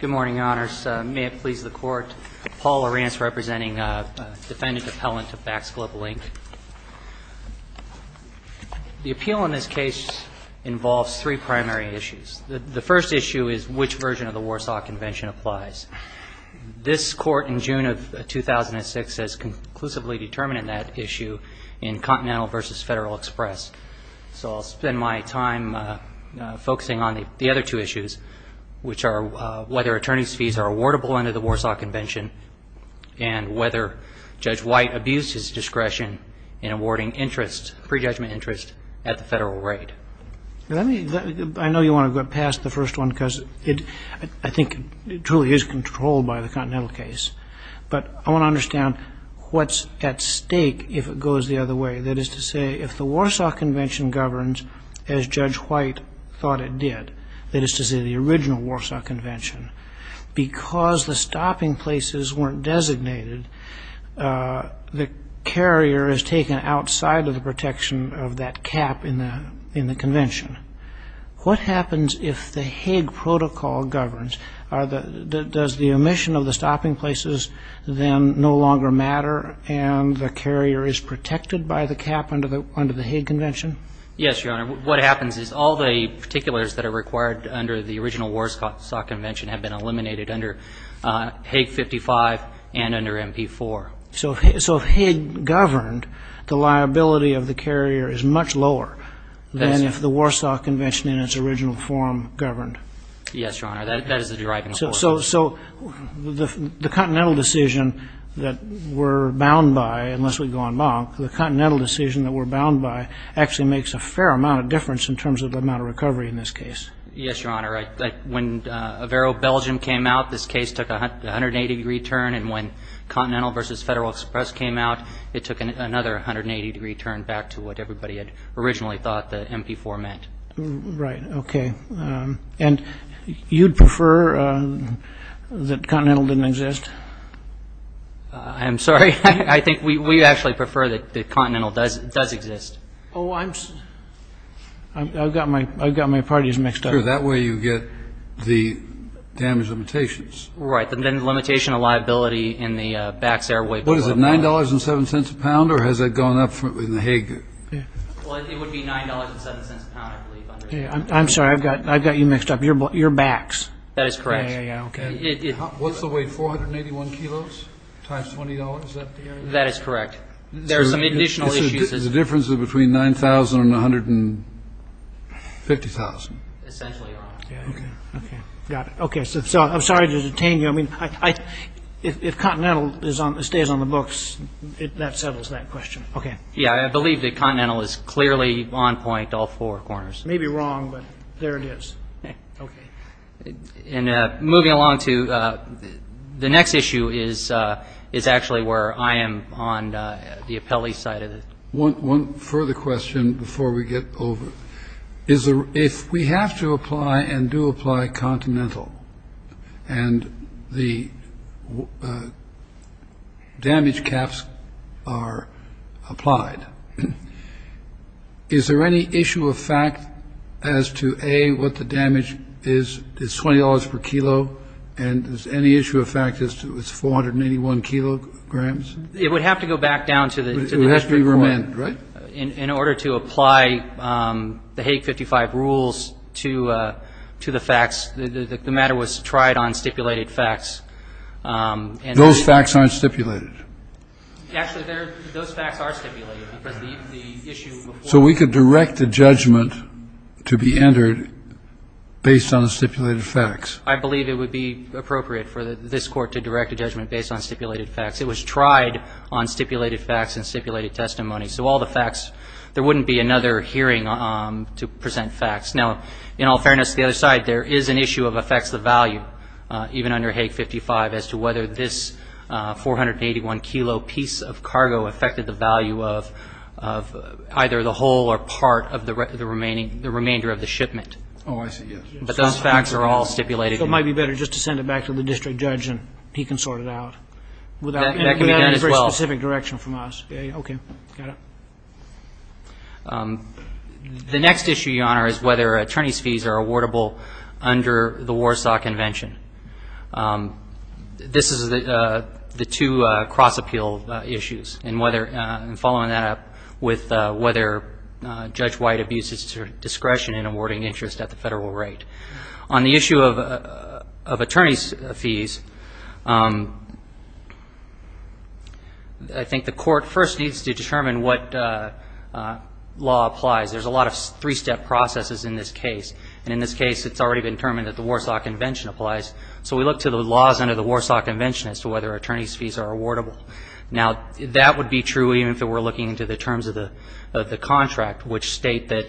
Good morning, Your Honors. May it please the Court, Paul Arantz representing Defendant Appellant of Bax Global Inc. The appeal in this case involves three primary issues. The first issue is which version of the Warsaw Convention applies. This Court in June of 2006 has conclusively determined that issue in Continental v. Federal Express. So I'll spend my time focusing on the other two issues, which are whether attorney's fees are awardable under the Warsaw Convention and whether Judge White abused his discretion in awarding pre-judgment interest at the Federal rate. I know you want to go past the first one because I think it truly is controlled by the Continental case, but I want to understand what's at stake if it goes the other way, that is to say, if the Warsaw Convention governs as Judge White thought it did, that is to say, the original Warsaw Convention, because the stopping places weren't designated, the carrier is taken outside of the protection of that cap in the convention. What happens if the Hague Protocol governs? Does the omission of the stopping places then no longer matter and the carrier is protected by the cap under the Hague Convention? Yes, Your Honor. What happens is all the particulars that are required under the original Warsaw Convention have been eliminated under Hague 55 and under MP4. So if Hague governed, the liability of the carrier is much lower than if the Warsaw Convention in its original form governed? Yes, Your Honor. That is the driving force. So the Continental decision that we're bound by, unless we go en banc, the Continental decision that we're bound by actually makes a fair amount of difference in terms of the amount of recovery in this case. Yes, Your Honor. When Averro-Belgium came out, this case took a 180-degree turn and when Continental v. Federal Express came out, it took another 180-degree turn back to what everybody had originally thought the MP4 meant. Right. Okay. And you'd prefer that Continental didn't exist? I'm sorry. I think we actually prefer that Continental does exist. Oh, I've got my parties mixed up. Sure. That way you get the damage limitations. Right. Then the limitation of liability in the Bax Airway Protocol. What is it, $9.07 a pound or has that gone up from the Hague? Well, it would be $9.07 a pound, I believe. I'm sorry. I've got you mixed up. Your Bax. That is correct. What's the weight, 481 kilos times $20? That is correct. There are some additional issues. The difference is between $9,000 and $150,000. Essentially, Your Honor. Got it. Okay. So I'm sorry to detain you. I mean, if Continental stays on the books, that settles that question. Okay. Yeah, I believe that Continental is clearly on point all four corners. Maybe wrong, but there it is. Okay. And moving along to the next issue is actually where I am on the appellee side of it. One further question before we get over. Is there if we have to apply and do apply Continental and the damage caps are applied, is there any issue of fact as to a what the damage is? It's $20 per kilo. And is any issue of fact as to its 481 kilo grams? It would have to go back down to the has to be remanded. In order to apply the Hague 55 rules to the facts, the matter was tried on stipulated facts. And those facts aren't stipulated. Actually, those facts are stipulated. So we could direct the judgment to be entered based on the stipulated facts. I believe it would be appropriate for this court to direct a judgment based on stipulated facts. It was tried on stipulated facts and stipulated testimony. So all the facts, there wouldn't be another hearing to present facts. Now, in all fairness to the other side, there is an issue of effects of value even under Hague 55 as to whether this 481 kilo piece of cargo affected the value of either the whole or part of the remainder of the shipment. Oh, I see, yes. But those facts are all stipulated. So it might be better just to send it back to the district judge and he can sort it out. Without any very specific direction from us. Okay. Got it. The next issue, Your Honor, is whether attorney's fees are awardable under the Warsaw Convention. This is the two cross-appeal issues. And following that up with whether Judge White abuses discretion in awarding interest at the federal rate. On the issue of attorney's fees, I think the court first needs to determine what law applies. There's a lot of three-step processes in this case. And in this case, it's already been determined that the Warsaw Convention applies. So we look to the laws under the Warsaw Convention as to whether attorney's fees are awardable. Now, that would be true even if it were looking into the terms of the contract, which state that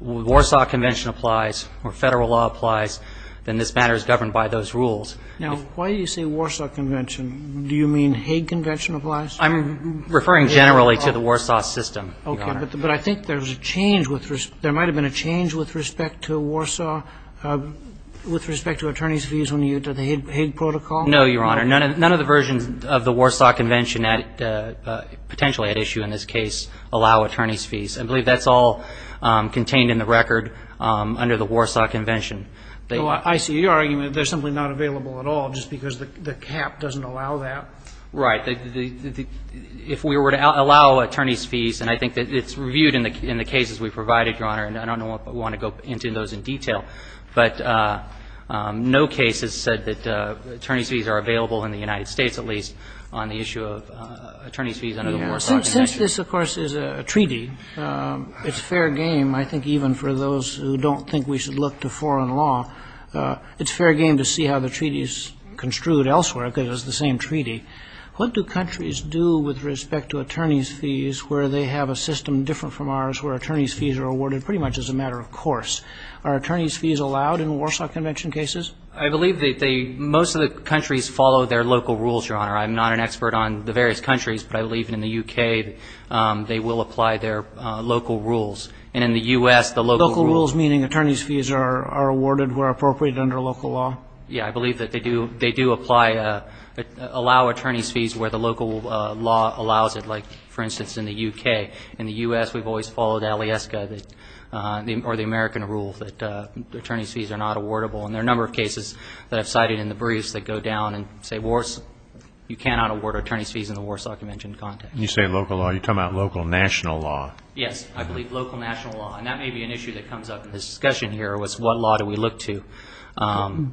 Warsaw Convention applies or federal law applies, then this matter is governed by those rules. Now, why do you say Warsaw Convention? Do you mean Hague Convention applies? I'm referring generally to the Warsaw system, Your Honor. Okay. But I think there's a change with respect to Warsaw with respect to attorney's fees under the Hague Protocol. No, Your Honor. in this case allow attorney's fees. I believe that's all contained in the record under the Warsaw Convention. I see your argument that they're simply not available at all just because the cap doesn't allow that. Right. If we were to allow attorney's fees, and I think it's reviewed in the cases we provided, Your Honor, and I don't want to go into those in detail, but no case has said that attorney's fees are available in the United States, at least, on the issue of attorney's fees under the Warsaw Convention. Since this, of course, is a treaty, it's fair game, I think, even for those who don't think we should look to foreign law, it's fair game to see how the treaty is construed elsewhere because it's the same treaty. What do countries do with respect to attorney's fees where they have a system different from ours where attorney's fees are awarded pretty much as a matter of course? Are attorney's fees allowed in Warsaw Convention cases? I believe that they — most of the countries follow their local rules, Your Honor. I'm not an expert on the various countries, but I believe in the U.K. they will apply their local rules. And in the U.S., the local rules — Local rules meaning attorney's fees are awarded where appropriate under local law? Yeah, I believe that they do apply — allow attorney's fees where the local law allows it, like, for instance, in the U.K. In the U.S., we've always followed ALIESCA or the American rule that attorney's fees are not awardable. And there are a number of cases that I've cited in the briefs that go down and say, you cannot award attorney's fees in the Warsaw Convention context. You say local law. You're talking about local national law. Yes, I believe local national law. And that may be an issue that comes up in this discussion here, is what law do we look to?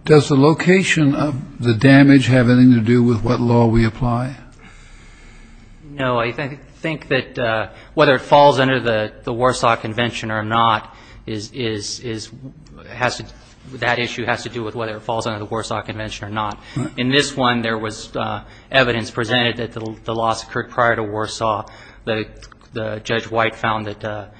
Does the location of the damage have anything to do with what law we apply? No, I think that whether it falls under the Warsaw Convention or not, that issue has to do with whether it falls under the Warsaw Convention or not. In this one, there was evidence presented that the loss occurred prior to Warsaw. The Judge White found that the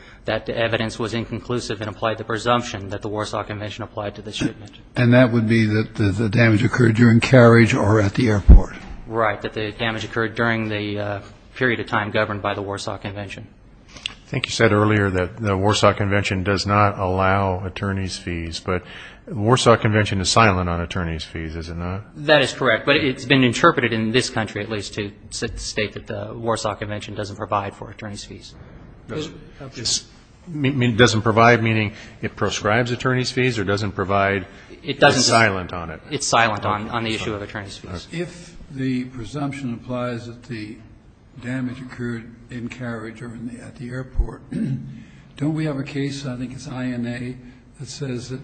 evidence was inconclusive and applied the presumption that the Warsaw Convention applied to this judgment. And that would be that the damage occurred during carriage or at the airport? Right, that the damage occurred during the period of time governed by the Warsaw Convention. I think you said earlier that the Warsaw Convention does not allow attorney's fees, but the Warsaw Convention is silent on attorney's fees, is it not? That is correct, but it's been interpreted in this country, at least, to state that the Warsaw Convention doesn't provide for attorney's fees. It doesn't provide, meaning it proscribes attorney's fees or doesn't provide? It's silent on it. It's silent on the issue of attorney's fees. If the presumption applies that the damage occurred in carriage or at the airport, don't we have a case, I think it's INA, that says that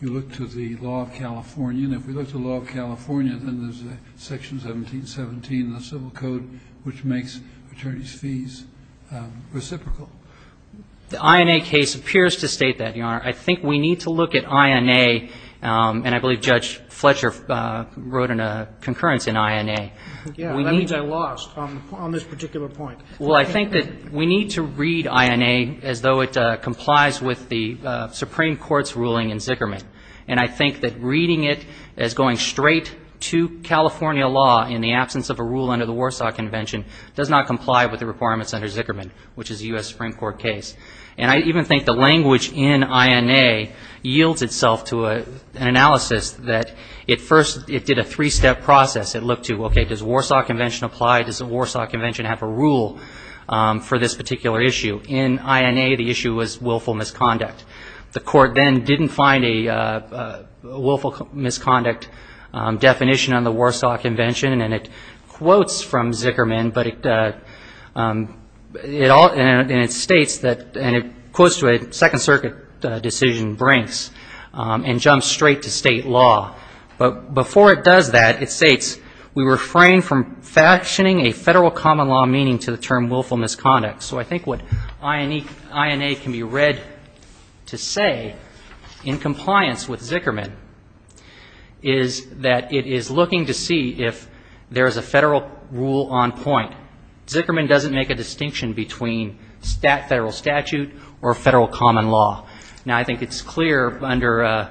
you look to the law of California, and if we look to the law of California, then there's a section 1717 in the Civil Code which makes attorney's fees reciprocal. The INA case appears to state that, Your Honor. I think we need to look at INA, and I believe Judge Fletcher wrote in a concurrence in INA. Yeah, that means I lost on this particular point. Well, I think that we need to read INA as though it complies with the Supreme Court's ruling in Zickerman. And I think that reading it as going straight to California law in the absence of a rule under the Warsaw Convention does not comply with the requirements under Zickerman, which is a U.S. Supreme Court case. And I even think the language in INA yields itself to an analysis that it first, it did a three-step process. It looked to, okay, does the Warsaw Convention apply? Does the Warsaw Convention have a rule for this particular issue? In INA, the issue was willful misconduct. The court then didn't find a willful misconduct definition on the Warsaw Convention, and it quotes from Zickerman, but it all, and it states that, and it quotes to a Second Circuit decision brinks and jumps straight to state law. But before it does that, it states, we refrain from factioning a federal common law meaning to the term willful misconduct. So I think what INA can be read to say in compliance with Zickerman is that it is looking to see if there is a federal rule on point. Zickerman doesn't make a distinction between federal statute or federal common law. Now, I think it's clear under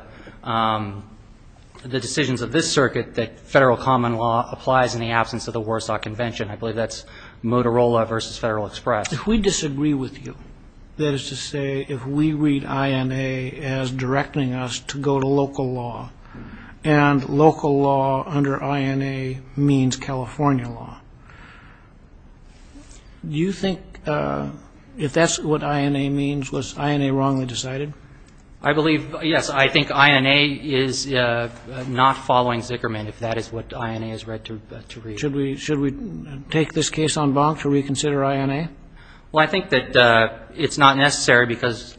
the decisions of this circuit that federal common law applies in the absence of the Warsaw Convention. I believe that's Motorola versus Federal Express. If we disagree with you, that is to say if we read INA as directing us to go to local law, and local law under INA means California law, do you think if that's what INA means, was INA wrongly decided? I believe, yes, I think INA is not following Zickerman if that is what INA is read to read. Should we take this case on bond to reconsider INA? Well, I think that it's not necessary because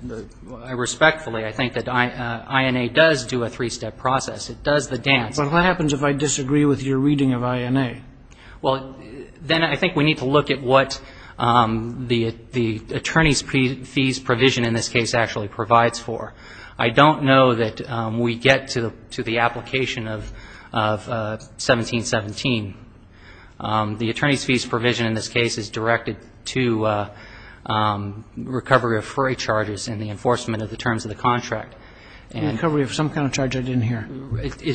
I respectfully, I think that INA does do a three-step process. It does the dance. But what happens if I disagree with your reading of INA? Well, then I think we need to look at what the attorney's fees provision in this case actually provides for. I don't know that we get to the application of 1717. The attorney's fees provision in this case is directed to recovery of freight charges and the enforcement of the terms of the contract. And recovery of some kind of charge I didn't hear.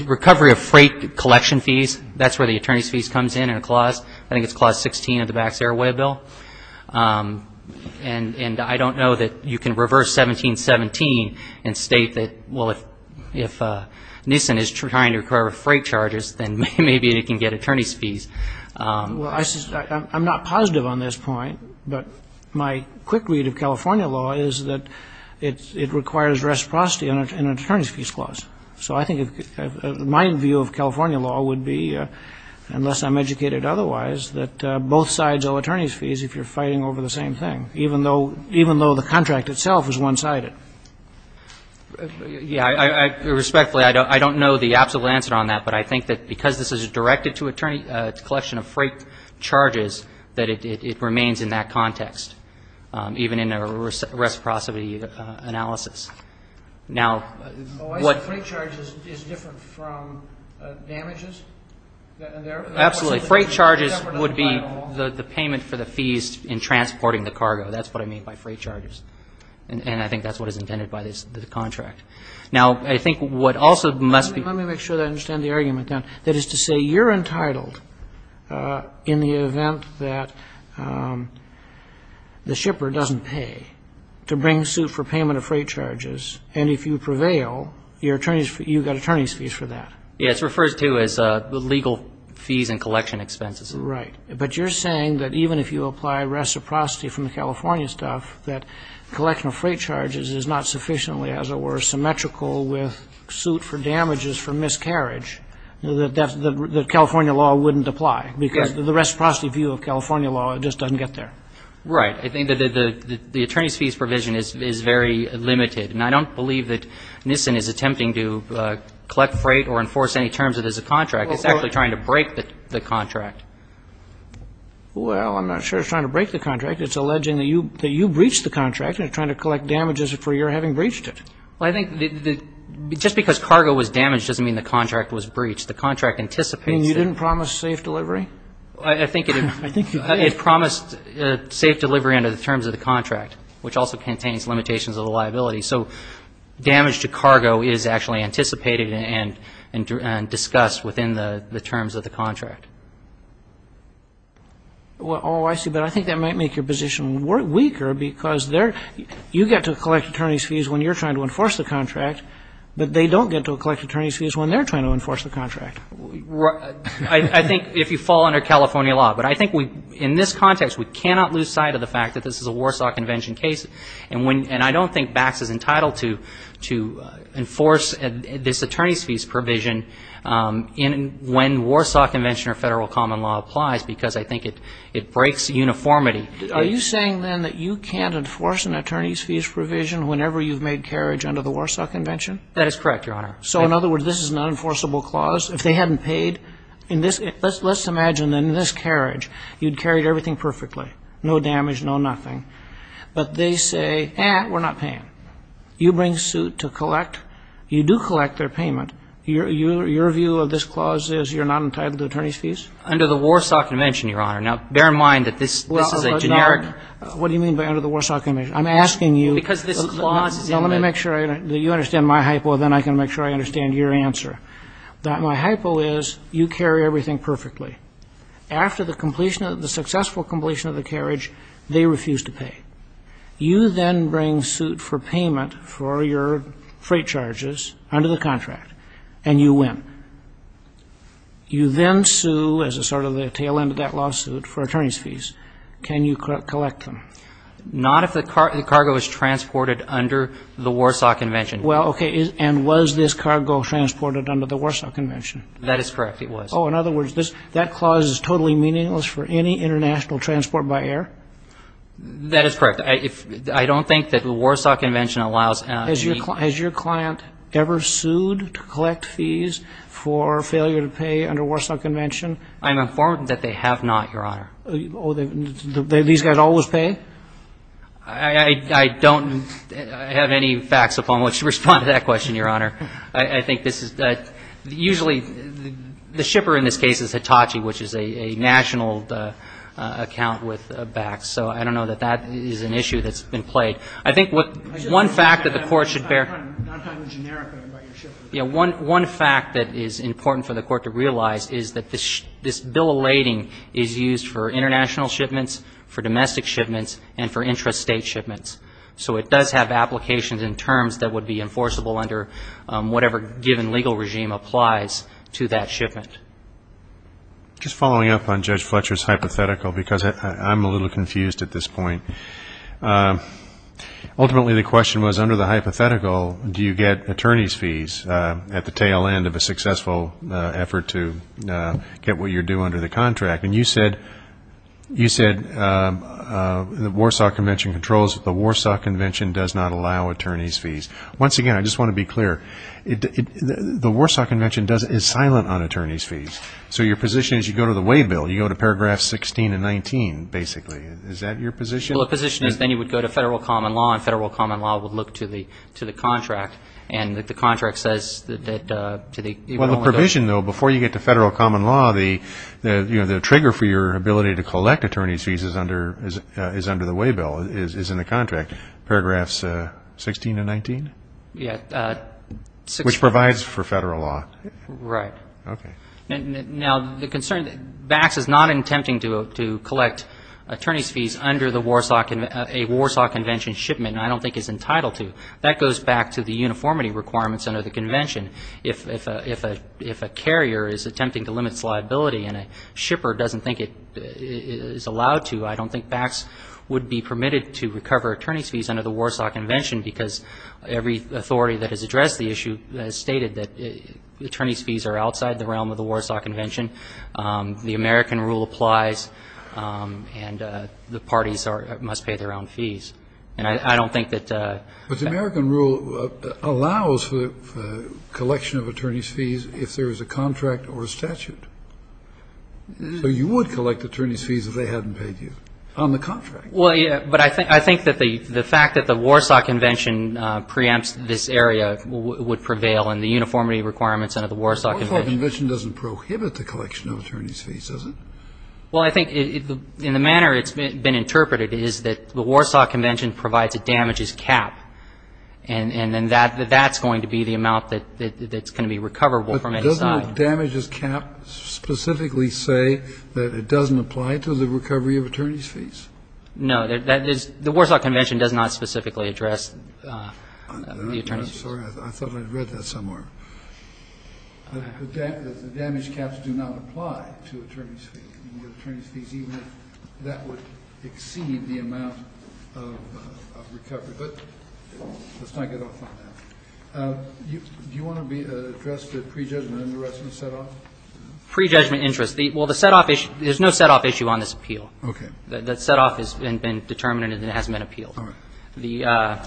Recovery of freight collection fees, that's where the attorney's fees comes in in a clause. I think it's clause 16 of the Bax Airway Bill. And I don't know that you can reverse 1717 and state that, well, if Nissan is trying to recover freight charges, then maybe they can get attorney's fees. Well, I'm not positive on this point, but my quick read of California law is that it requires reciprocity in an attorney's fees clause. So I think my view of California law would be, unless I'm educated otherwise, that both sides owe attorney's fees if you're fighting over the same thing, even though the contract itself is one-sided. Yeah, respectfully, I don't know the absolute answer on that, but I think that because this is directed to attorney's collection of freight charges, that it remains in that context, even in a reciprocity analysis. Now, what Oh, I see. Freight charges is different from damages? Absolutely. Freight charges would be the payment for the fees in transporting the cargo. That's what I mean by freight charges. And I think that's what is intended by this contract. Now, I think what also must be Let me make sure that I understand the argument then. That is to say you're entitled in the event that the shipper doesn't pay to bring suit for payment of freight charges, and if you prevail, you've got attorney's fees for that. Yeah, it's referred to as the legal fees and collection expenses. Right. But you're saying that even if you apply reciprocity from the California stuff, that collection of freight charges is not sufficiently, as it were, symmetrical with suit for damages for miscarriage, that California law wouldn't apply? Because the reciprocity view of California law, it just doesn't get there. Right. I think that the attorney's fees provision is very limited. And I don't believe that NISN is attempting to collect freight or enforce any terms of this contract. It's actually trying to break the contract. Well, I'm not sure it's trying to break the contract. It's alleging that you breached the contract and trying to collect damages for your having breached it. Well, I think just because cargo was damaged doesn't mean the contract was breached. The contract anticipates it. You didn't promise safe delivery? I think it promised safe delivery under the terms of the contract, which also contains limitations of the liability. So damage to cargo is actually anticipated and discussed within the terms of the contract. Oh, I see. But I think that might make your position weaker because you get to collect attorney's fees when you're trying to enforce the contract, but they don't get to collect attorney's fees when they're trying to enforce the contract. I think if you fall under California law. But I think in this context, we cannot lose sight of the fact that this is a Warsaw Convention case. And I don't think Bax is entitled to enforce this attorney's fees provision when Warsaw Convention or federal common law applies because I think it breaks uniformity. Are you saying then that you can't enforce an attorney's fees provision whenever you've made carriage under the Warsaw Convention? That is correct, Your Honor. So in other words, this is an unenforceable clause. If they hadn't paid in this, let's imagine in this carriage, you'd carry everything perfectly. No damage, no nothing. But they say, eh, we're not paying. You bring suit to collect. You do collect their payment. Your view of this clause is you're not entitled to attorney's fees? Under the Warsaw Convention, Your Honor. Now, bear in mind that this is a generic. What do you mean by under the Warsaw Convention? I'm asking you. Because this clause is in the. Now, let me make sure that you understand my hypo, then I can make sure I understand your answer. My hypo is you carry everything perfectly. After the completion, the successful completion of the carriage, they refuse to pay. You then bring suit for payment for your freight charges under the contract and you win. You then sue, as a sort of the tail end of that lawsuit, for attorney's fees. Can you collect them? Not if the cargo is transported under the Warsaw Convention. Well, okay, and was this cargo transported under the Warsaw Convention? That is correct. It was. Oh, in other words, that clause is totally meaningless for any international transport by air? That is correct. I don't think that the Warsaw Convention allows. Has your client ever sued to collect fees for failure to pay under Warsaw Convention? I'm informed that they have not, Your Honor. Oh, these guys always pay? I don't have any facts upon which to respond to that question, Your Honor. I think this is usually the shipper in this case is Hitachi, which is a national account with Bax. So I don't know that that is an issue that's been played. I think one fact that the Court should bear. I'm just not talking generically about your shipments. One fact that is important for the Court to realize is that this bill of lading is used for international shipments, for domestic shipments, and for intrastate shipments. So it does have applications in terms that would be enforceable under whatever given legal regime applies to that shipment. Just following up on Judge Fletcher's hypothetical, because I'm a little confused at this point. Ultimately, the question was, under the hypothetical, do you get attorney's fees at the tail end of a successful effort to get what you're due under the contract? And you said the Warsaw Convention controls that the Warsaw Convention does not allow attorney's fees. Once again, I just want to be clear, the Warsaw Convention is silent on attorney's fees. So your position is you go to the way bill. You go to paragraphs 16 and 19, basically. Is that your position? Well, the position is then you would go to federal common law, and federal common law And the contract says that you would only go to the way bill. My vision, though, before you get to federal common law, the trigger for your ability to collect attorney's fees is under the way bill, is in the contract. Paragraphs 16 and 19? Yeah, 16. Which provides for federal law. Right. OK. Now, the concern, BACS is not attempting to collect attorney's fees under a Warsaw Convention shipment, and I don't think it's entitled to. That goes back to the uniformity requirements under the Convention. If a carrier is attempting to limit its liability and a shipper doesn't think it is allowed to, I don't think BACS would be permitted to recover attorney's fees under the Warsaw Convention, because every authority that has addressed the issue has stated that attorney's fees are outside the realm of the Warsaw Convention. The American rule applies, and the parties must pay their own fees. And I don't think that the But the American rule allows for the collection of attorney's fees if there is a contract or a statute. So you would collect attorney's fees if they hadn't paid you on the contract. Well, yeah, but I think that the fact that the Warsaw Convention preempts this area would prevail in the uniformity requirements under the Warsaw Convention. The Warsaw Convention doesn't prohibit the collection of attorney's fees, does it? Well, I think in the manner it's been interpreted is that the Warsaw Convention provides a damages cap, and then that's going to be the amount that's going to be recoverable from any side. But doesn't the damages cap specifically say that it doesn't apply to the recovery of attorney's fees? No, the Warsaw Convention does not specifically address the attorney's fees. I'm sorry, I thought I read that somewhere. The damage caps do not apply to attorney's fees, even if that would exceed the amount of recovery. But let's not get off on that. Do you want to address the pre-judgment and the rest of the set-off? Pre-judgment interest. Well, the set-off issue, there's no set-off issue on this appeal. Okay. The set-off has been determined and it hasn't been appealed. All right.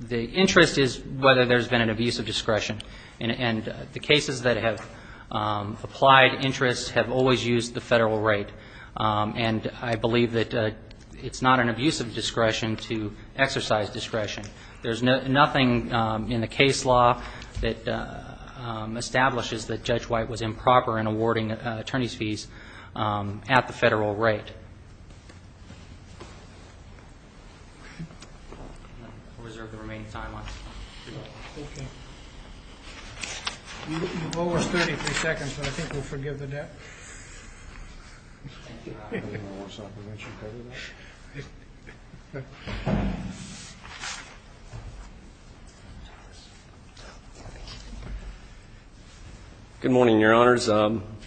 The interest is whether there's been an abuse of discretion. And the cases that have applied interest have always used the federal rate. And I believe that it's not an abuse of discretion to exercise discretion. There's nothing in the case law that establishes that Judge White was improper in awarding attorney's fees at the federal rate. I'll reserve the remaining time. Okay. You owe us 33 seconds, but I think we'll forgive the debt. Good morning, Your Honors.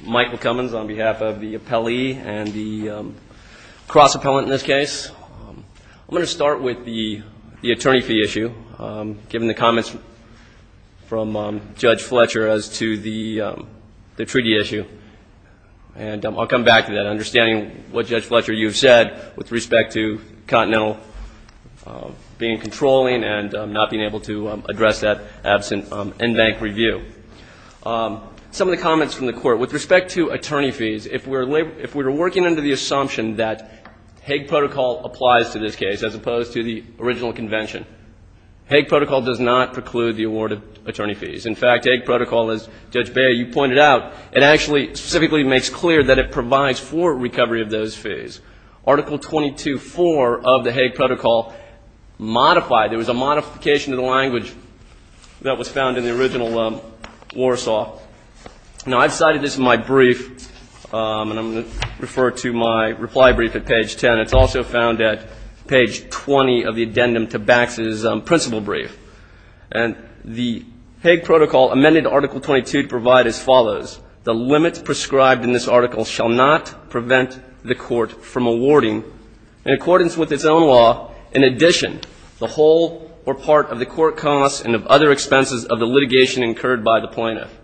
Michael Cummins on behalf of the appellee and the cross-appellant in this case. I'm going to start with the attorney fee issue, given the comments from Judge Fletcher as to the treaty issue. And I'll come back to that, understanding what Judge Fletcher, you've said with respect to Continental being controlling and not being able to address that absent in-bank review. With respect to attorney fees, if we're working under the assumption that Hague Protocol applies to this case, as opposed to the original convention, Hague Protocol does not preclude the award of attorney fees. In fact, Hague Protocol, as Judge Beyer, you pointed out, it actually specifically makes clear that it provides for recovery of those fees. Article 22.4 of the Hague Protocol modified, there was a modification to the language that was found in the original Warsaw. Now, I've cited this in my brief, and I'm going to refer to my reply brief at page 10. It's also found at page 20 of the addendum to Bax's principal brief. And the Hague Protocol amended Article 22 to provide as follows. The limits prescribed in this article shall not prevent the court from awarding, in accordance with its own law, in addition, the whole or part of the court costs and of other expenses of the litigation incurred by the plaintiff.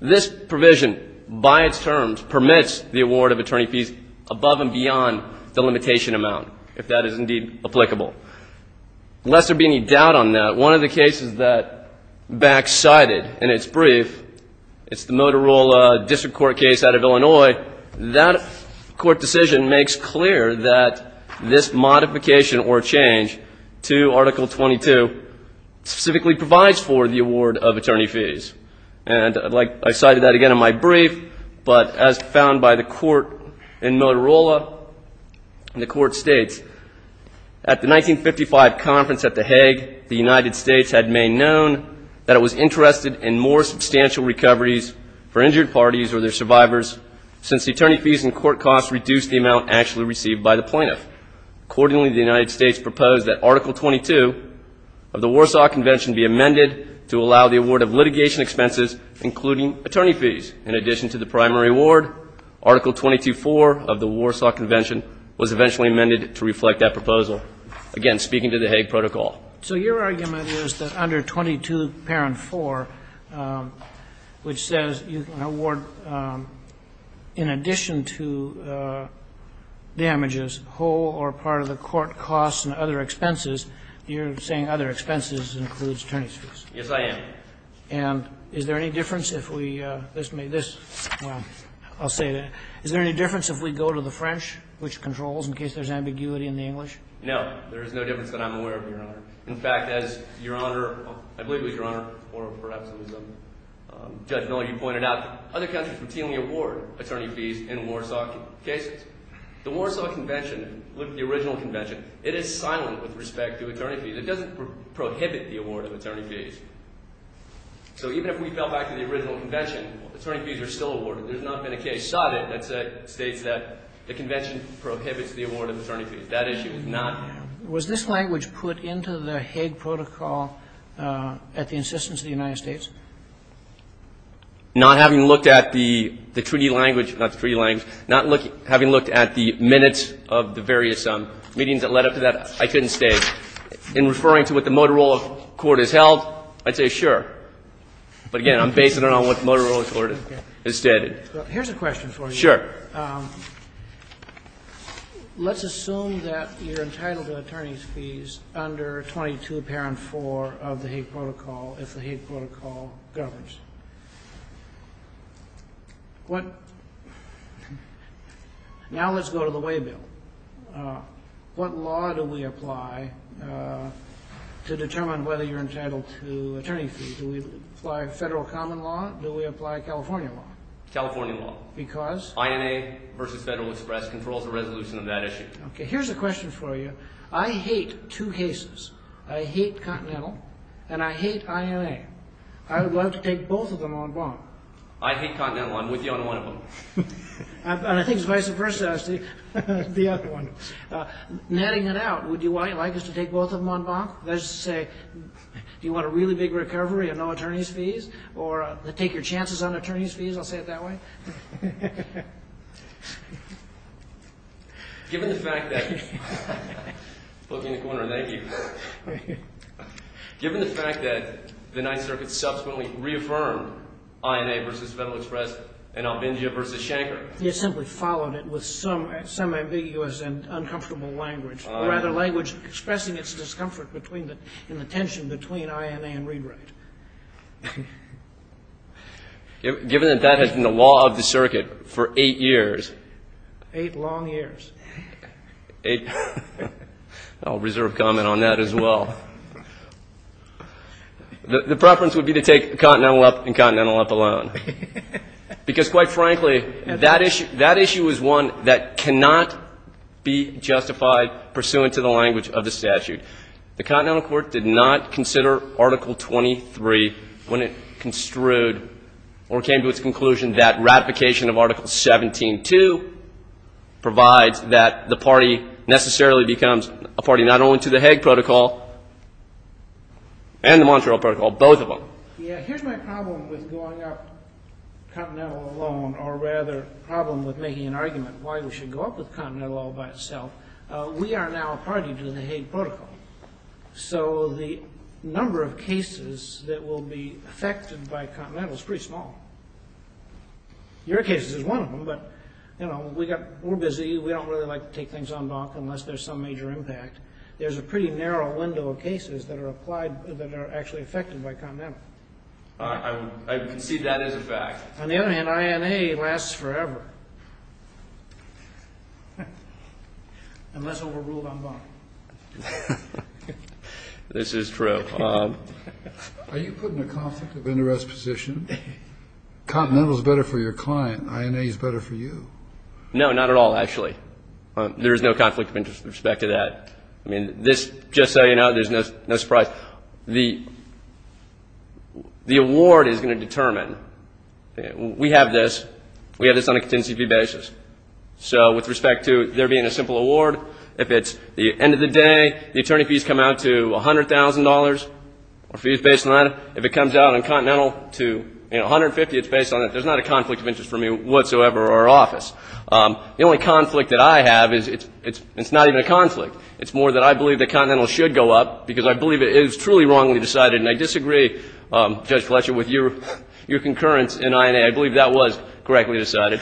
This provision, by its terms, permits the award of attorney fees above and beyond the limitation amount, if that is indeed applicable. Lest there be any doubt on that, one of the cases that Bax cited in its brief, it's the Motorola District Court case out of Illinois, that court decision makes clear that this modification or change to Article 22 specifically provides for the award of attorney fees. And like I cited that again in my brief, but as found by the court in Motorola, the court states, at the 1955 conference at the Hague, the United States had made known that it was interested in more substantial recoveries for injured parties or their survivors, since the attorney fees and court costs reduced the amount actually received by the plaintiff. Accordingly, the United States proposed that Article 22 of the Warsaw Convention be amended to allow the award of litigation expenses, including attorney fees. In addition to the primary award, Article 22.4 of the Warsaw Convention was eventually amended to reflect that proposal. Again, speaking to the Hague Protocol. So your argument is that under 22.4, which says you can award, in addition to damages, whole or part of the court costs and other expenses, you're saying other expenses includes attorney fees. Yes, I am. And is there any difference if we go to the French, which controls, in case there's ambiguity in the English? No, there is no difference that I'm aware of, Your Honor. In fact, as Your Honor, I believe it was Your Honor, or perhaps it was Judge Miller, you pointed out, other countries routinely award attorney fees in Warsaw cases. The Warsaw Convention, the original convention, it is silent with respect to attorney fees. It doesn't prohibit the award of attorney fees. So even if we fell back to the original convention, attorney fees are still awarded. There's not been a case cited that states that the convention prohibits the award of attorney fees. That issue is not there. Was this language put into the Hague Protocol at the insistence of the United States? Not having looked at the treaty language, not the treaty language, not having looked at the minutes of the various meetings that led up to that, I couldn't say. In referring to what the Motorola Court has held, I'd say sure. But again, I'm basing it on what the Motorola Court has stated. Here's a question for you. Sure. Let's assume that you're entitled to attorney's fees under 22 Parent 4 of the Hague Protocol if the Hague Protocol governs. What – now let's go to the waybill. What law do we apply to determine whether you're entitled to attorney fees? Do we apply Federal common law? Do we apply California law? California law. Because? Because INA versus Federal Express controls the resolution of that issue. Okay. Here's a question for you. I hate two cases. I hate Continental and I hate INA. I would love to take both of them on bonk. I hate Continental. I'm with you on one of them. And I think it's vice versa, Steve. The other one. Netting it out, would you like us to take both of them on bonk? That is to say, do you want a really big recovery and no attorney's fees? Or take your chances on attorney's fees? I'll say it that way. Given the fact that – bookie in the corner, thank you. Given the fact that the Ninth Circuit subsequently reaffirmed INA versus Federal Express and Albingia versus Schenker. You simply followed it with some ambiguous and uncomfortable language. Rather, language expressing its discomfort in the tension between INA and read-write. Given that that has been the law of the circuit for eight years. Eight long years. I'll reserve comment on that as well. The preference would be to take Continental up and Continental up alone. Because, quite frankly, that issue is one that cannot be justified pursuant to the language of the statute. The Continental Court did not consider Article 23 when it construed or came to its conclusion that ratification of Article 17.2 provides that the party necessarily becomes a party not only to the Hague Protocol and the Montreal Protocol, both of them. Here's my problem with going up Continental alone, or rather the problem with making an argument why we should go up with Continental all by itself. We are now a party to the Hague Protocol. So the number of cases that will be affected by Continental is pretty small. Your case is one of them, but we're busy. We don't really like to take things on block unless there's some major impact. There's a pretty narrow window of cases that are actually affected by Continental. I concede that is a fact. On the other hand, INA lasts forever unless overruled on bond. This is true. Are you putting a conflict of interest position? Continental is better for your client. INA is better for you. No, not at all, actually. There is no conflict of interest with respect to that. Just so you know, there's no surprise. The award is going to determine. We have this. We have this on a contingency fee basis. So with respect to there being a simple award, if it's the end of the day, the attorney fees come out to $100,000 or fees based on that. If it comes out on Continental to $150,000, it's based on it. There's not a conflict of interest for me whatsoever or our office. The only conflict that I have is it's not even a conflict. It's more that I believe that Continental should go up, because I believe it is truly wrongly decided. And I disagree, Judge Fletcher, with your concurrence in INA. I believe that was correctly decided.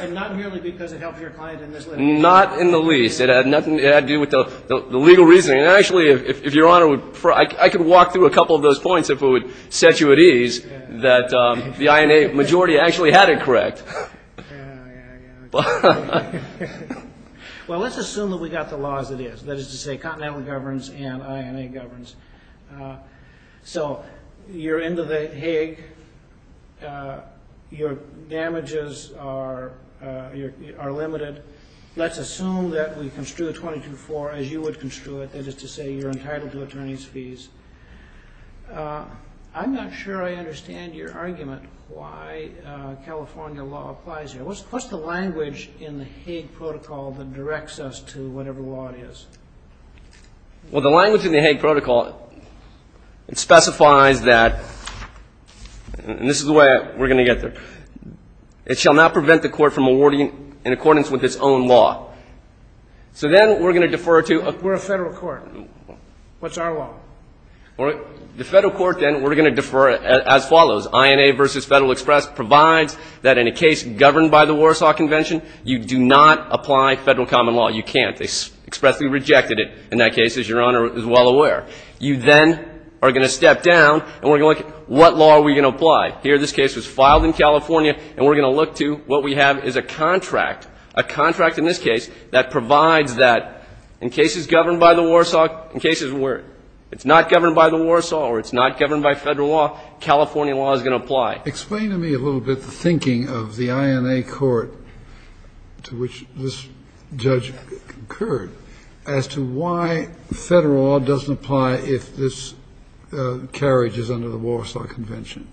And not merely because it helped your client in this way? Not in the least. It had nothing to do with the legal reasoning. Actually, if Your Honor would prefer, I could walk through a couple of those points if it would set you at ease that the INA majority actually had it correct. Well, let's assume that we got the law as it is, that is to say Continental governs and INA governs. So you're into the Hague. Your damages are limited. Let's assume that we construe a 22-4 as you would construe it, I'm not sure I understand your argument why California law applies here. What's the language in the Hague Protocol that directs us to whatever law it is? Well, the language in the Hague Protocol specifies that, and this is the way we're going to get there, it shall not prevent the court from awarding in accordance with its own law. So then we're going to defer to a federal court. What's our law? The federal court then, we're going to defer as follows. INA versus Federal Express provides that in a case governed by the Warsaw Convention, you do not apply federal common law. You can't. They expressly rejected it in that case, as Your Honor is well aware. You then are going to step down and we're going to look at what law are we going to apply. Here this case was filed in California, and we're going to look to what we have is a contract, a contract in this case, that provides that in cases governed by the Warsaw, in cases where it's not governed by the Warsaw or it's not governed by federal law, California law is going to apply. Explain to me a little bit the thinking of the INA court to which this judge concurred as to why federal law doesn't apply if this carriage is under the Warsaw Convention.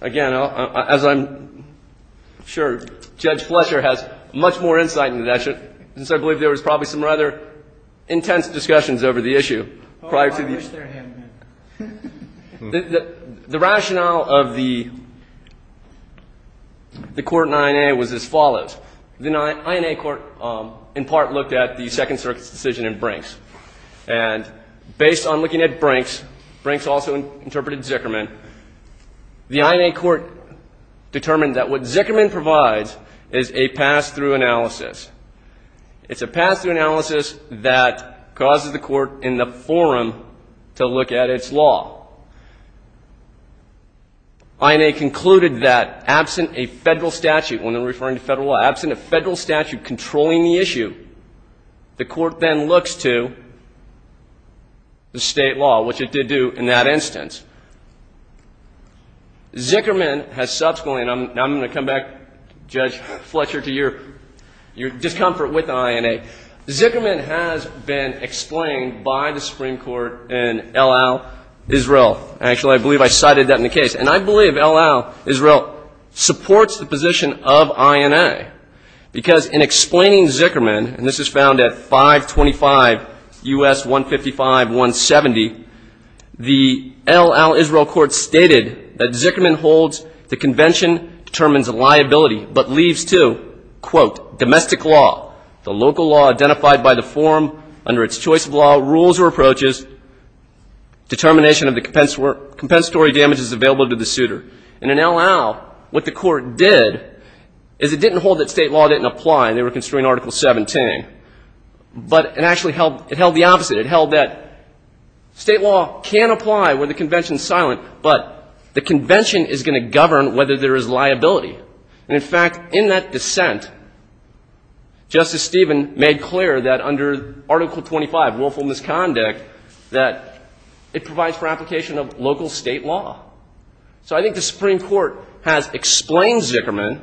Again, as I'm sure Judge Fletcher has much more insight into that, since I believe there was probably some rather intense discussions over the issue prior to the issue. Oh, I wish there had been. The rationale of the court in INA was as follows. The INA court in part looked at the Second Circuit's decision in Brinks, and based on looking at Brinks, Brinks also interpreted Zickerman, the INA court determined that what Zickerman provides is a pass-through analysis. It's a pass-through analysis that causes the court in the forum to look at its law. INA concluded that absent a federal statute, when they're referring to federal law, the court then looks to the state law, which it did do in that instance. Zickerman has subsequently, and I'm going to come back, Judge Fletcher, to your discomfort with the INA. Zickerman has been explained by the Supreme Court in El Al, Israel. Actually, I believe I cited that in the case. And I believe El Al, Israel supports the position of INA because in explaining Zickerman, and this is found at 525 U.S. 155.170, the El Al, Israel court stated that Zickerman holds the convention determines liability, but leaves to, quote, domestic law, the local law identified by the forum under its choice of law, rules or approaches, determination of the compensatory damages available to the suitor. And in El Al, what the court did is it didn't hold that state law didn't apply, and they were construing Article 17, but it actually held the opposite. It held that state law can apply where the convention is silent, but the convention is going to govern whether there is liability. And, in fact, in that dissent, Justice Stevens made clear that under Article 25, willful misconduct, that it provides for application of local state law. So I think the Supreme Court has explained Zickerman,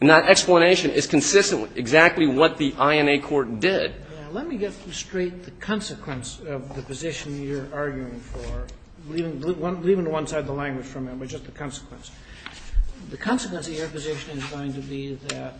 and that explanation is consistent with exactly what the INA court did. Sotomayor, let me get straight the consequence of the position you're arguing for, leaving one side of the language from it, but just the consequence. The consequence of your position is going to be that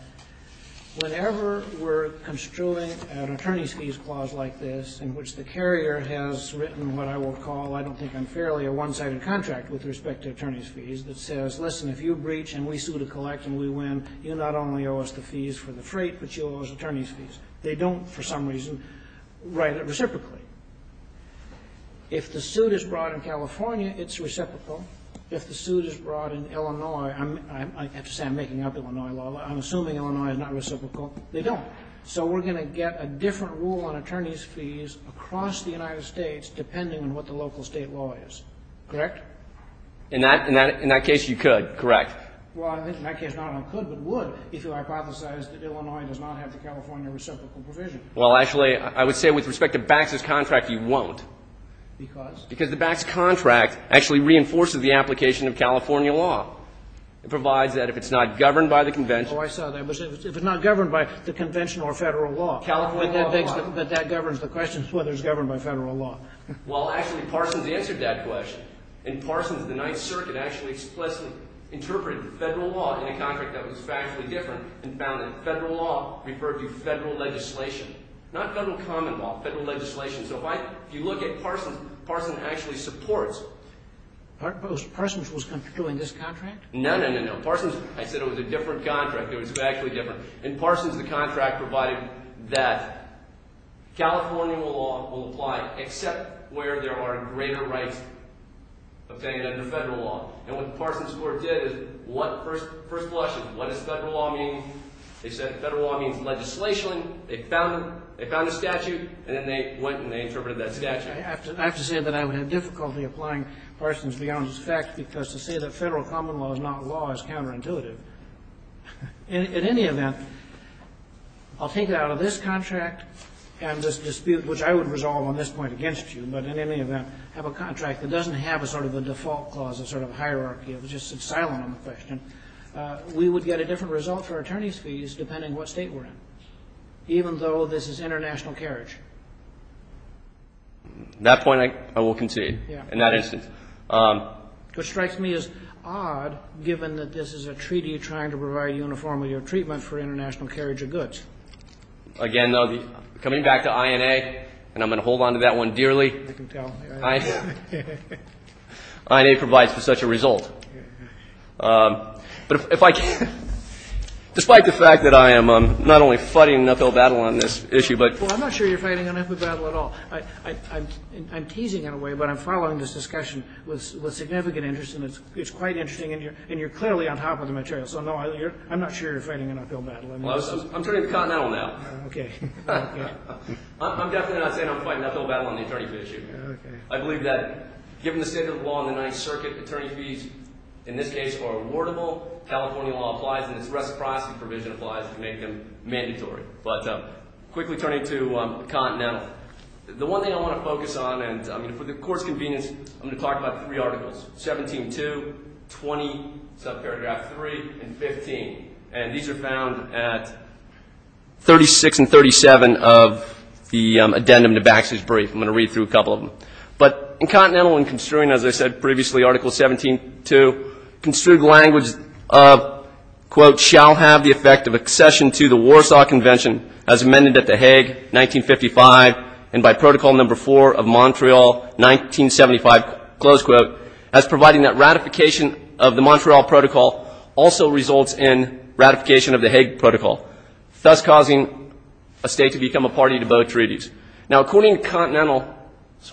whenever we're construing an attorney's fees clause like this, in which the carrier has written what I will call, I don't think unfairly, a one-sided contract with respect to attorney's fees, that says, listen, if you breach and we sue to collect and we win, you not only owe us the fees for the freight, but you owe us attorney's fees. They don't, for some reason, write it reciprocally. If the suit is brought in California, it's reciprocal. If the suit is brought in Illinois, I have to say I'm making up Illinois law. I'm assuming Illinois is not reciprocal. They don't. So we're going to get a different rule on attorney's fees across the United States, depending on what the local state law is. Correct? In that case, you could. Correct. Well, in that case, not I could, but would, if you hypothesized that Illinois does not have the California reciprocal provision. Well, actually, I would say with respect to Bax's contract, you won't. Because? Because the Bax contract actually reinforces the application of California law. It provides that if it's not governed by the convention. Oh, I saw that. If it's not governed by the convention or Federal law. California law. But that governs the question whether it's governed by Federal law. Well, actually, Parsons answered that question. And Parsons, the Ninth Circuit, actually explicitly interpreted Federal law in a contract that was factually different and found that Federal law referred to Federal legislation, not Federal common law, Federal legislation. So if you look at Parsons, Parsons actually supports. Parsons was doing this contract? No, no, no, no. Parsons, I said it was a different contract. It was factually different. In Parsons, the contract provided that California law will apply except where there are greater rights obtained under Federal law. And what Parsons Court did is first blushed at what does Federal law mean. They said Federal law means legislation. They found it. They found a statute. And then they went and they interpreted that statute. I have to say that I would have difficulty applying Parsons beyond his fact because to say that Federal common law is not law is counterintuitive. In any event, I'll take it out of this contract and this dispute, which I would resolve on this point against you, but in any event have a contract that doesn't have a sort of a default clause, a sort of hierarchy. It was just silent on the question. We would get a different result for attorney's fees depending what State we're in, even though this is international carriage. That point I will concede in that instance. What strikes me as odd, given that this is a treaty trying to provide uniformity of treatment for international carriage of goods. Again, though, coming back to INA, and I'm going to hold on to that one dearly. INA provides for such a result. But if I can, despite the fact that I am not only fighting an uphill battle on this issue, but. Well, I'm not sure you're fighting an uphill battle at all. I'm teasing in a way, but I'm following this discussion with significant interest and it's quite interesting and you're clearly on top of the material. So, no, I'm not sure you're fighting an uphill battle. I'm turning to Continental now. Okay. I'm definitely not saying I'm fighting an uphill battle on the attorney fee issue. Okay. I believe that given the state of the law in the Ninth Circuit, attorney fees, in this case, are rewardable. California law applies and its reciprocity provision applies to make them mandatory. But quickly turning to Continental. The one thing I want to focus on, and for the court's convenience, I'm going to talk about three articles. 17-2, 20, subparagraph 3, and 15. And these are found at 36 and 37 of the addendum to Baxter's brief. I'm going to read through a couple of them. But in Continental, in construing, as I said previously, Article 17-2, construed language of, quote, shall have the effect of accession to the Warsaw Convention as amended at the Hague, 1955, and by Protocol Number 4 of Montreal, 1975, close quote, as providing that ratification of the Montreal Protocol also results in ratification of the Hague Protocol, thus causing a state to become a party to both treaties. Now, according to Continental's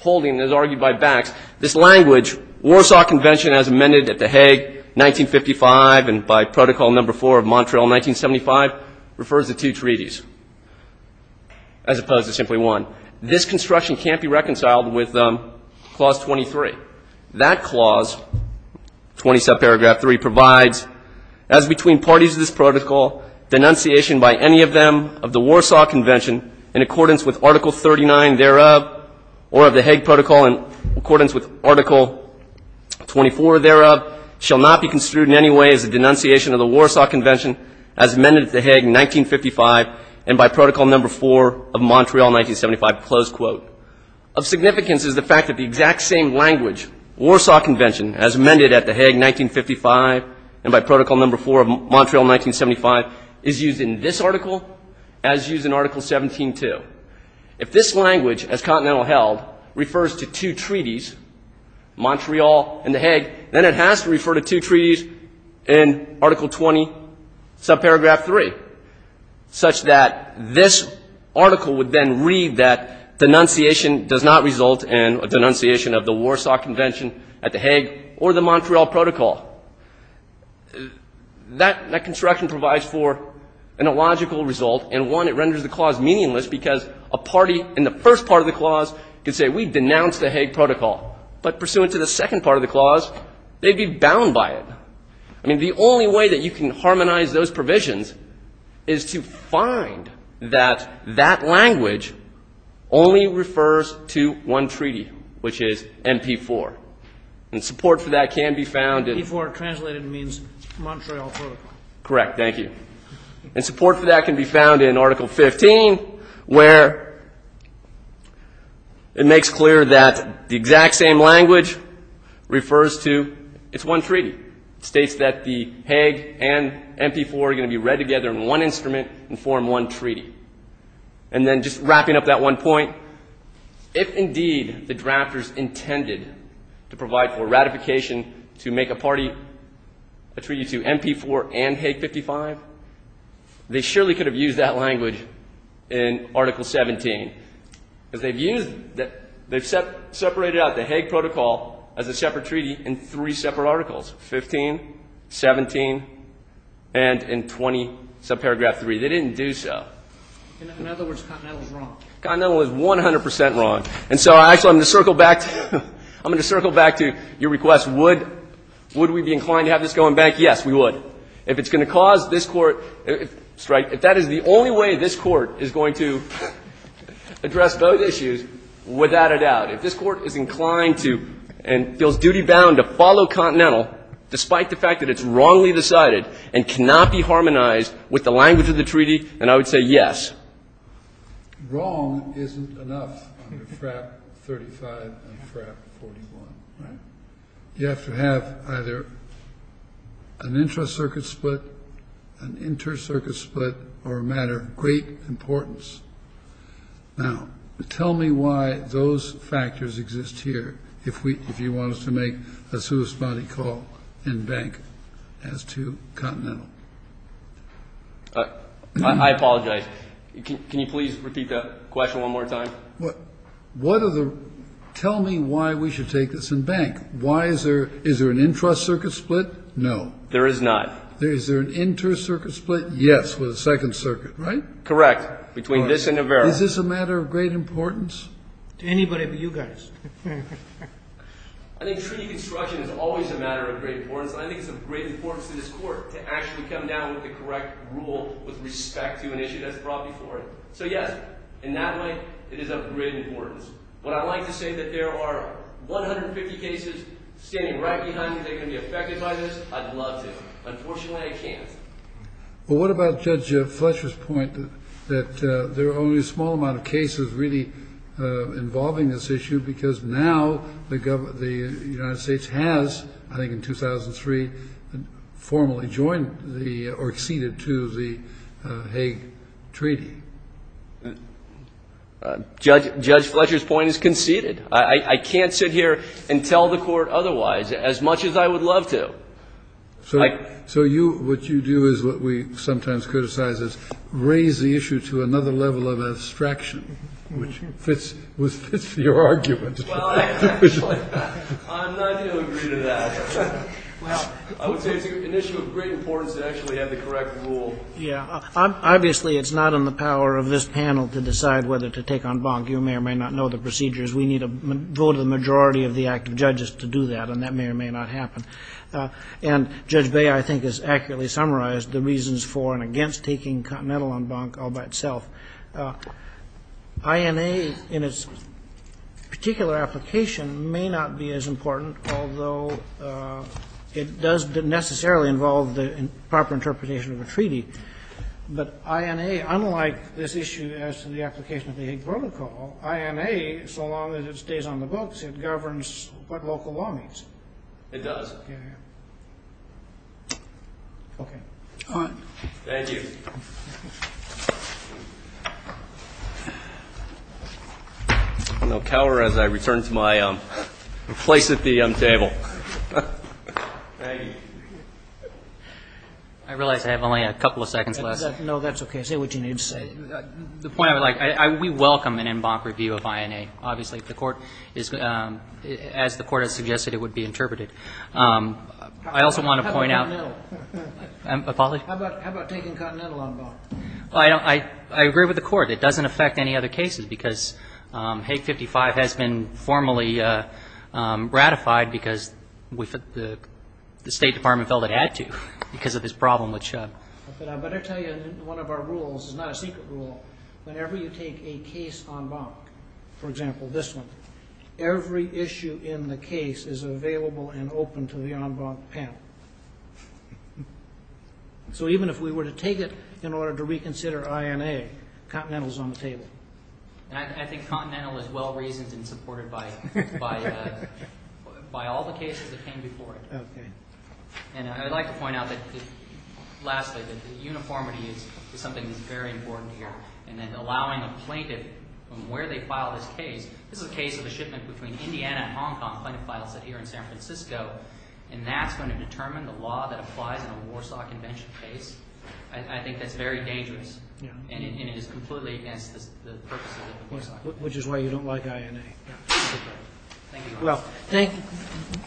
holding, as argued by Bax, this language, Warsaw Convention as amended at the Hague, 1955, and by Protocol Number 4 of Montreal, 1975, refers to two treaties as opposed to simply one. This construction can't be reconciled with Clause 23. That clause, 20, subparagraph 3, provides, as between parties of this protocol, denunciation by any of them of the Warsaw Convention, in accordance with Article 39 thereof, or of the Hague Protocol in accordance with Article 24 thereof, shall not be construed in any way as a denunciation of the Warsaw Convention as amended at the Hague, 1955, and by Protocol Number 4 of Montreal, 1975, close quote. Of significance is the fact that the exact same language, Warsaw Convention as amended at the Hague, 1955, and by Protocol Number 4 of Montreal, 1975, is used in this article as used in Article 17-2. If this language, as Continental held, refers to two treaties, Montreal and the Hague, then it has to refer to two treaties in Article 20, subparagraph 3, such that this article would then read that denunciation does not result in a denunciation of the Warsaw Convention at the Hague or the Montreal Protocol. That construction provides for an illogical result, and one, it renders the clause meaningless because a party in the first part of the clause can say, we denounce the Hague Protocol, but pursuant to the second part of the clause, they'd be bound by it. I mean, the only way that you can harmonize those provisions is to find that that language only refers to one treaty, which is MP4. And support for that can be found in- MP4 translated means Montreal Protocol. Correct. Thank you. And support for that can be found in Article 15, where it makes clear that the exact same language refers to its one treaty. It states that the Hague and MP4 are going to be read together in one instrument and form one treaty. And then just wrapping up that one point, if indeed the drafters intended to provide for ratification to make a treaty to MP4 and Hague 55, they surely could have used that language in Article 17, because they've separated out the Hague Protocol as a separate treaty in three separate articles, 15, 17, and in 20 subparagraph 3. They didn't do so. In other words, Continental is wrong. Continental is 100 percent wrong. And so I'm going to circle back to your request. Would we be inclined to have this going back? Yes, we would. If it's going to cause this Court to strike, if that is the only way this Court is going to address both issues, without a doubt, if this Court is inclined to and feels duty-bound to follow Continental, despite the fact that it's wrongly decided and cannot be harmonized with the language of the treaty, then I would say yes. Wrong isn't enough under FRAP 35 and FRAP 41. You have to have either an intra-circuit split, an inter-circuit split, or a matter of great importance. Now, tell me why those factors exist here, if you want us to make a suicide call in bank as to Continental. I apologize. Can you please repeat that question one more time? What are the ‑‑ tell me why we should take this in bank. Why is there ‑‑ is there an intra-circuit split? No. There is not. Is there an inter-circuit split? Yes, with a second circuit, right? Correct. Between this and Navarro. Is this a matter of great importance? To anybody but you guys. I think treaty construction is always a matter of great importance. I think it's of great importance to this Court to actually come down with the correct rule with respect to an issue that's brought before it. So, yes, in that way, it is of great importance. What I'd like to say is that there are 150 cases standing right behind me. Are they going to be affected by this? I'd love to. Unfortunately, I can't. Well, what about Judge Fletcher's point that there are only a small amount of cases really involving this issue because now the United States has, I think in 2003, formally joined the ‑‑ or acceded to the Hague Treaty? Judge Fletcher's point is conceded. I can't sit here and tell the Court otherwise, as much as I would love to. So what you do is what we sometimes criticize is raise the issue to another level of abstraction, which fits your argument. Well, I'm not going to agree to that. I would say it's an issue of great importance to actually have the correct rule. Obviously, it's not in the power of this panel to decide whether to take on Bonk. You may or may not know the procedures. We need a vote of the majority of the active judges to do that, and that may or may not happen. And Judge Bay, I think, has accurately summarized the reasons for and against taking Continental on Bonk all by itself. INA in its particular application may not be as important, although it does necessarily involve the proper interpretation of a treaty. But INA, unlike this issue as to the application of the Hague Protocol, INA, so long as it stays on the books, it governs what local law means. It does. All right. Thank you. I'm going to cower as I return to my place at the table. Thank you. I realize I have only a couple of seconds left. No, that's okay. Say what you need to say. The point I would like, we welcome an en banc review of INA. Obviously, as the Court has suggested, it would be interpreted. I also want to point out. How about taking Continental on Bonk? I agree with the Court. It doesn't affect any other cases because Hague 55 has been formally ratified because the State Department felt it had to because of this problem. But I better tell you one of our rules is not a secret rule. Whenever you take a case en banc, for example, this one, every issue in the case is available and open to the en banc panel. So even if we were to take it in order to reconsider INA, Continental is on the table. I think Continental is well-reasoned and supported by all the cases that came before it. And I'd like to point out that, lastly, that uniformity is something that's very important here. And then allowing a plaintiff from where they filed this case, this is a case of a shipment between Indiana and Hong Kong, plaintiff files it here in San Francisco, and that's going to determine the law that applies in a Warsaw Convention case. I think that's very dangerous. And it is completely against the purpose of the Warsaw Convention. Which is why you don't like INA. Well, thank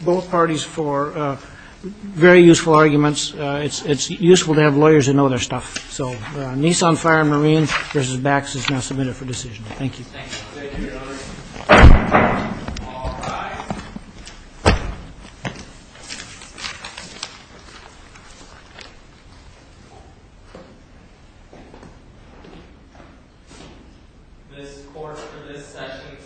both parties for very useful arguments. It's useful to have lawyers that know their stuff. So Nissan Fire Marine versus Bax is now submitted for decision. Thank you. Thank you, Your Honor. All rise. This court for this session stands adjourned.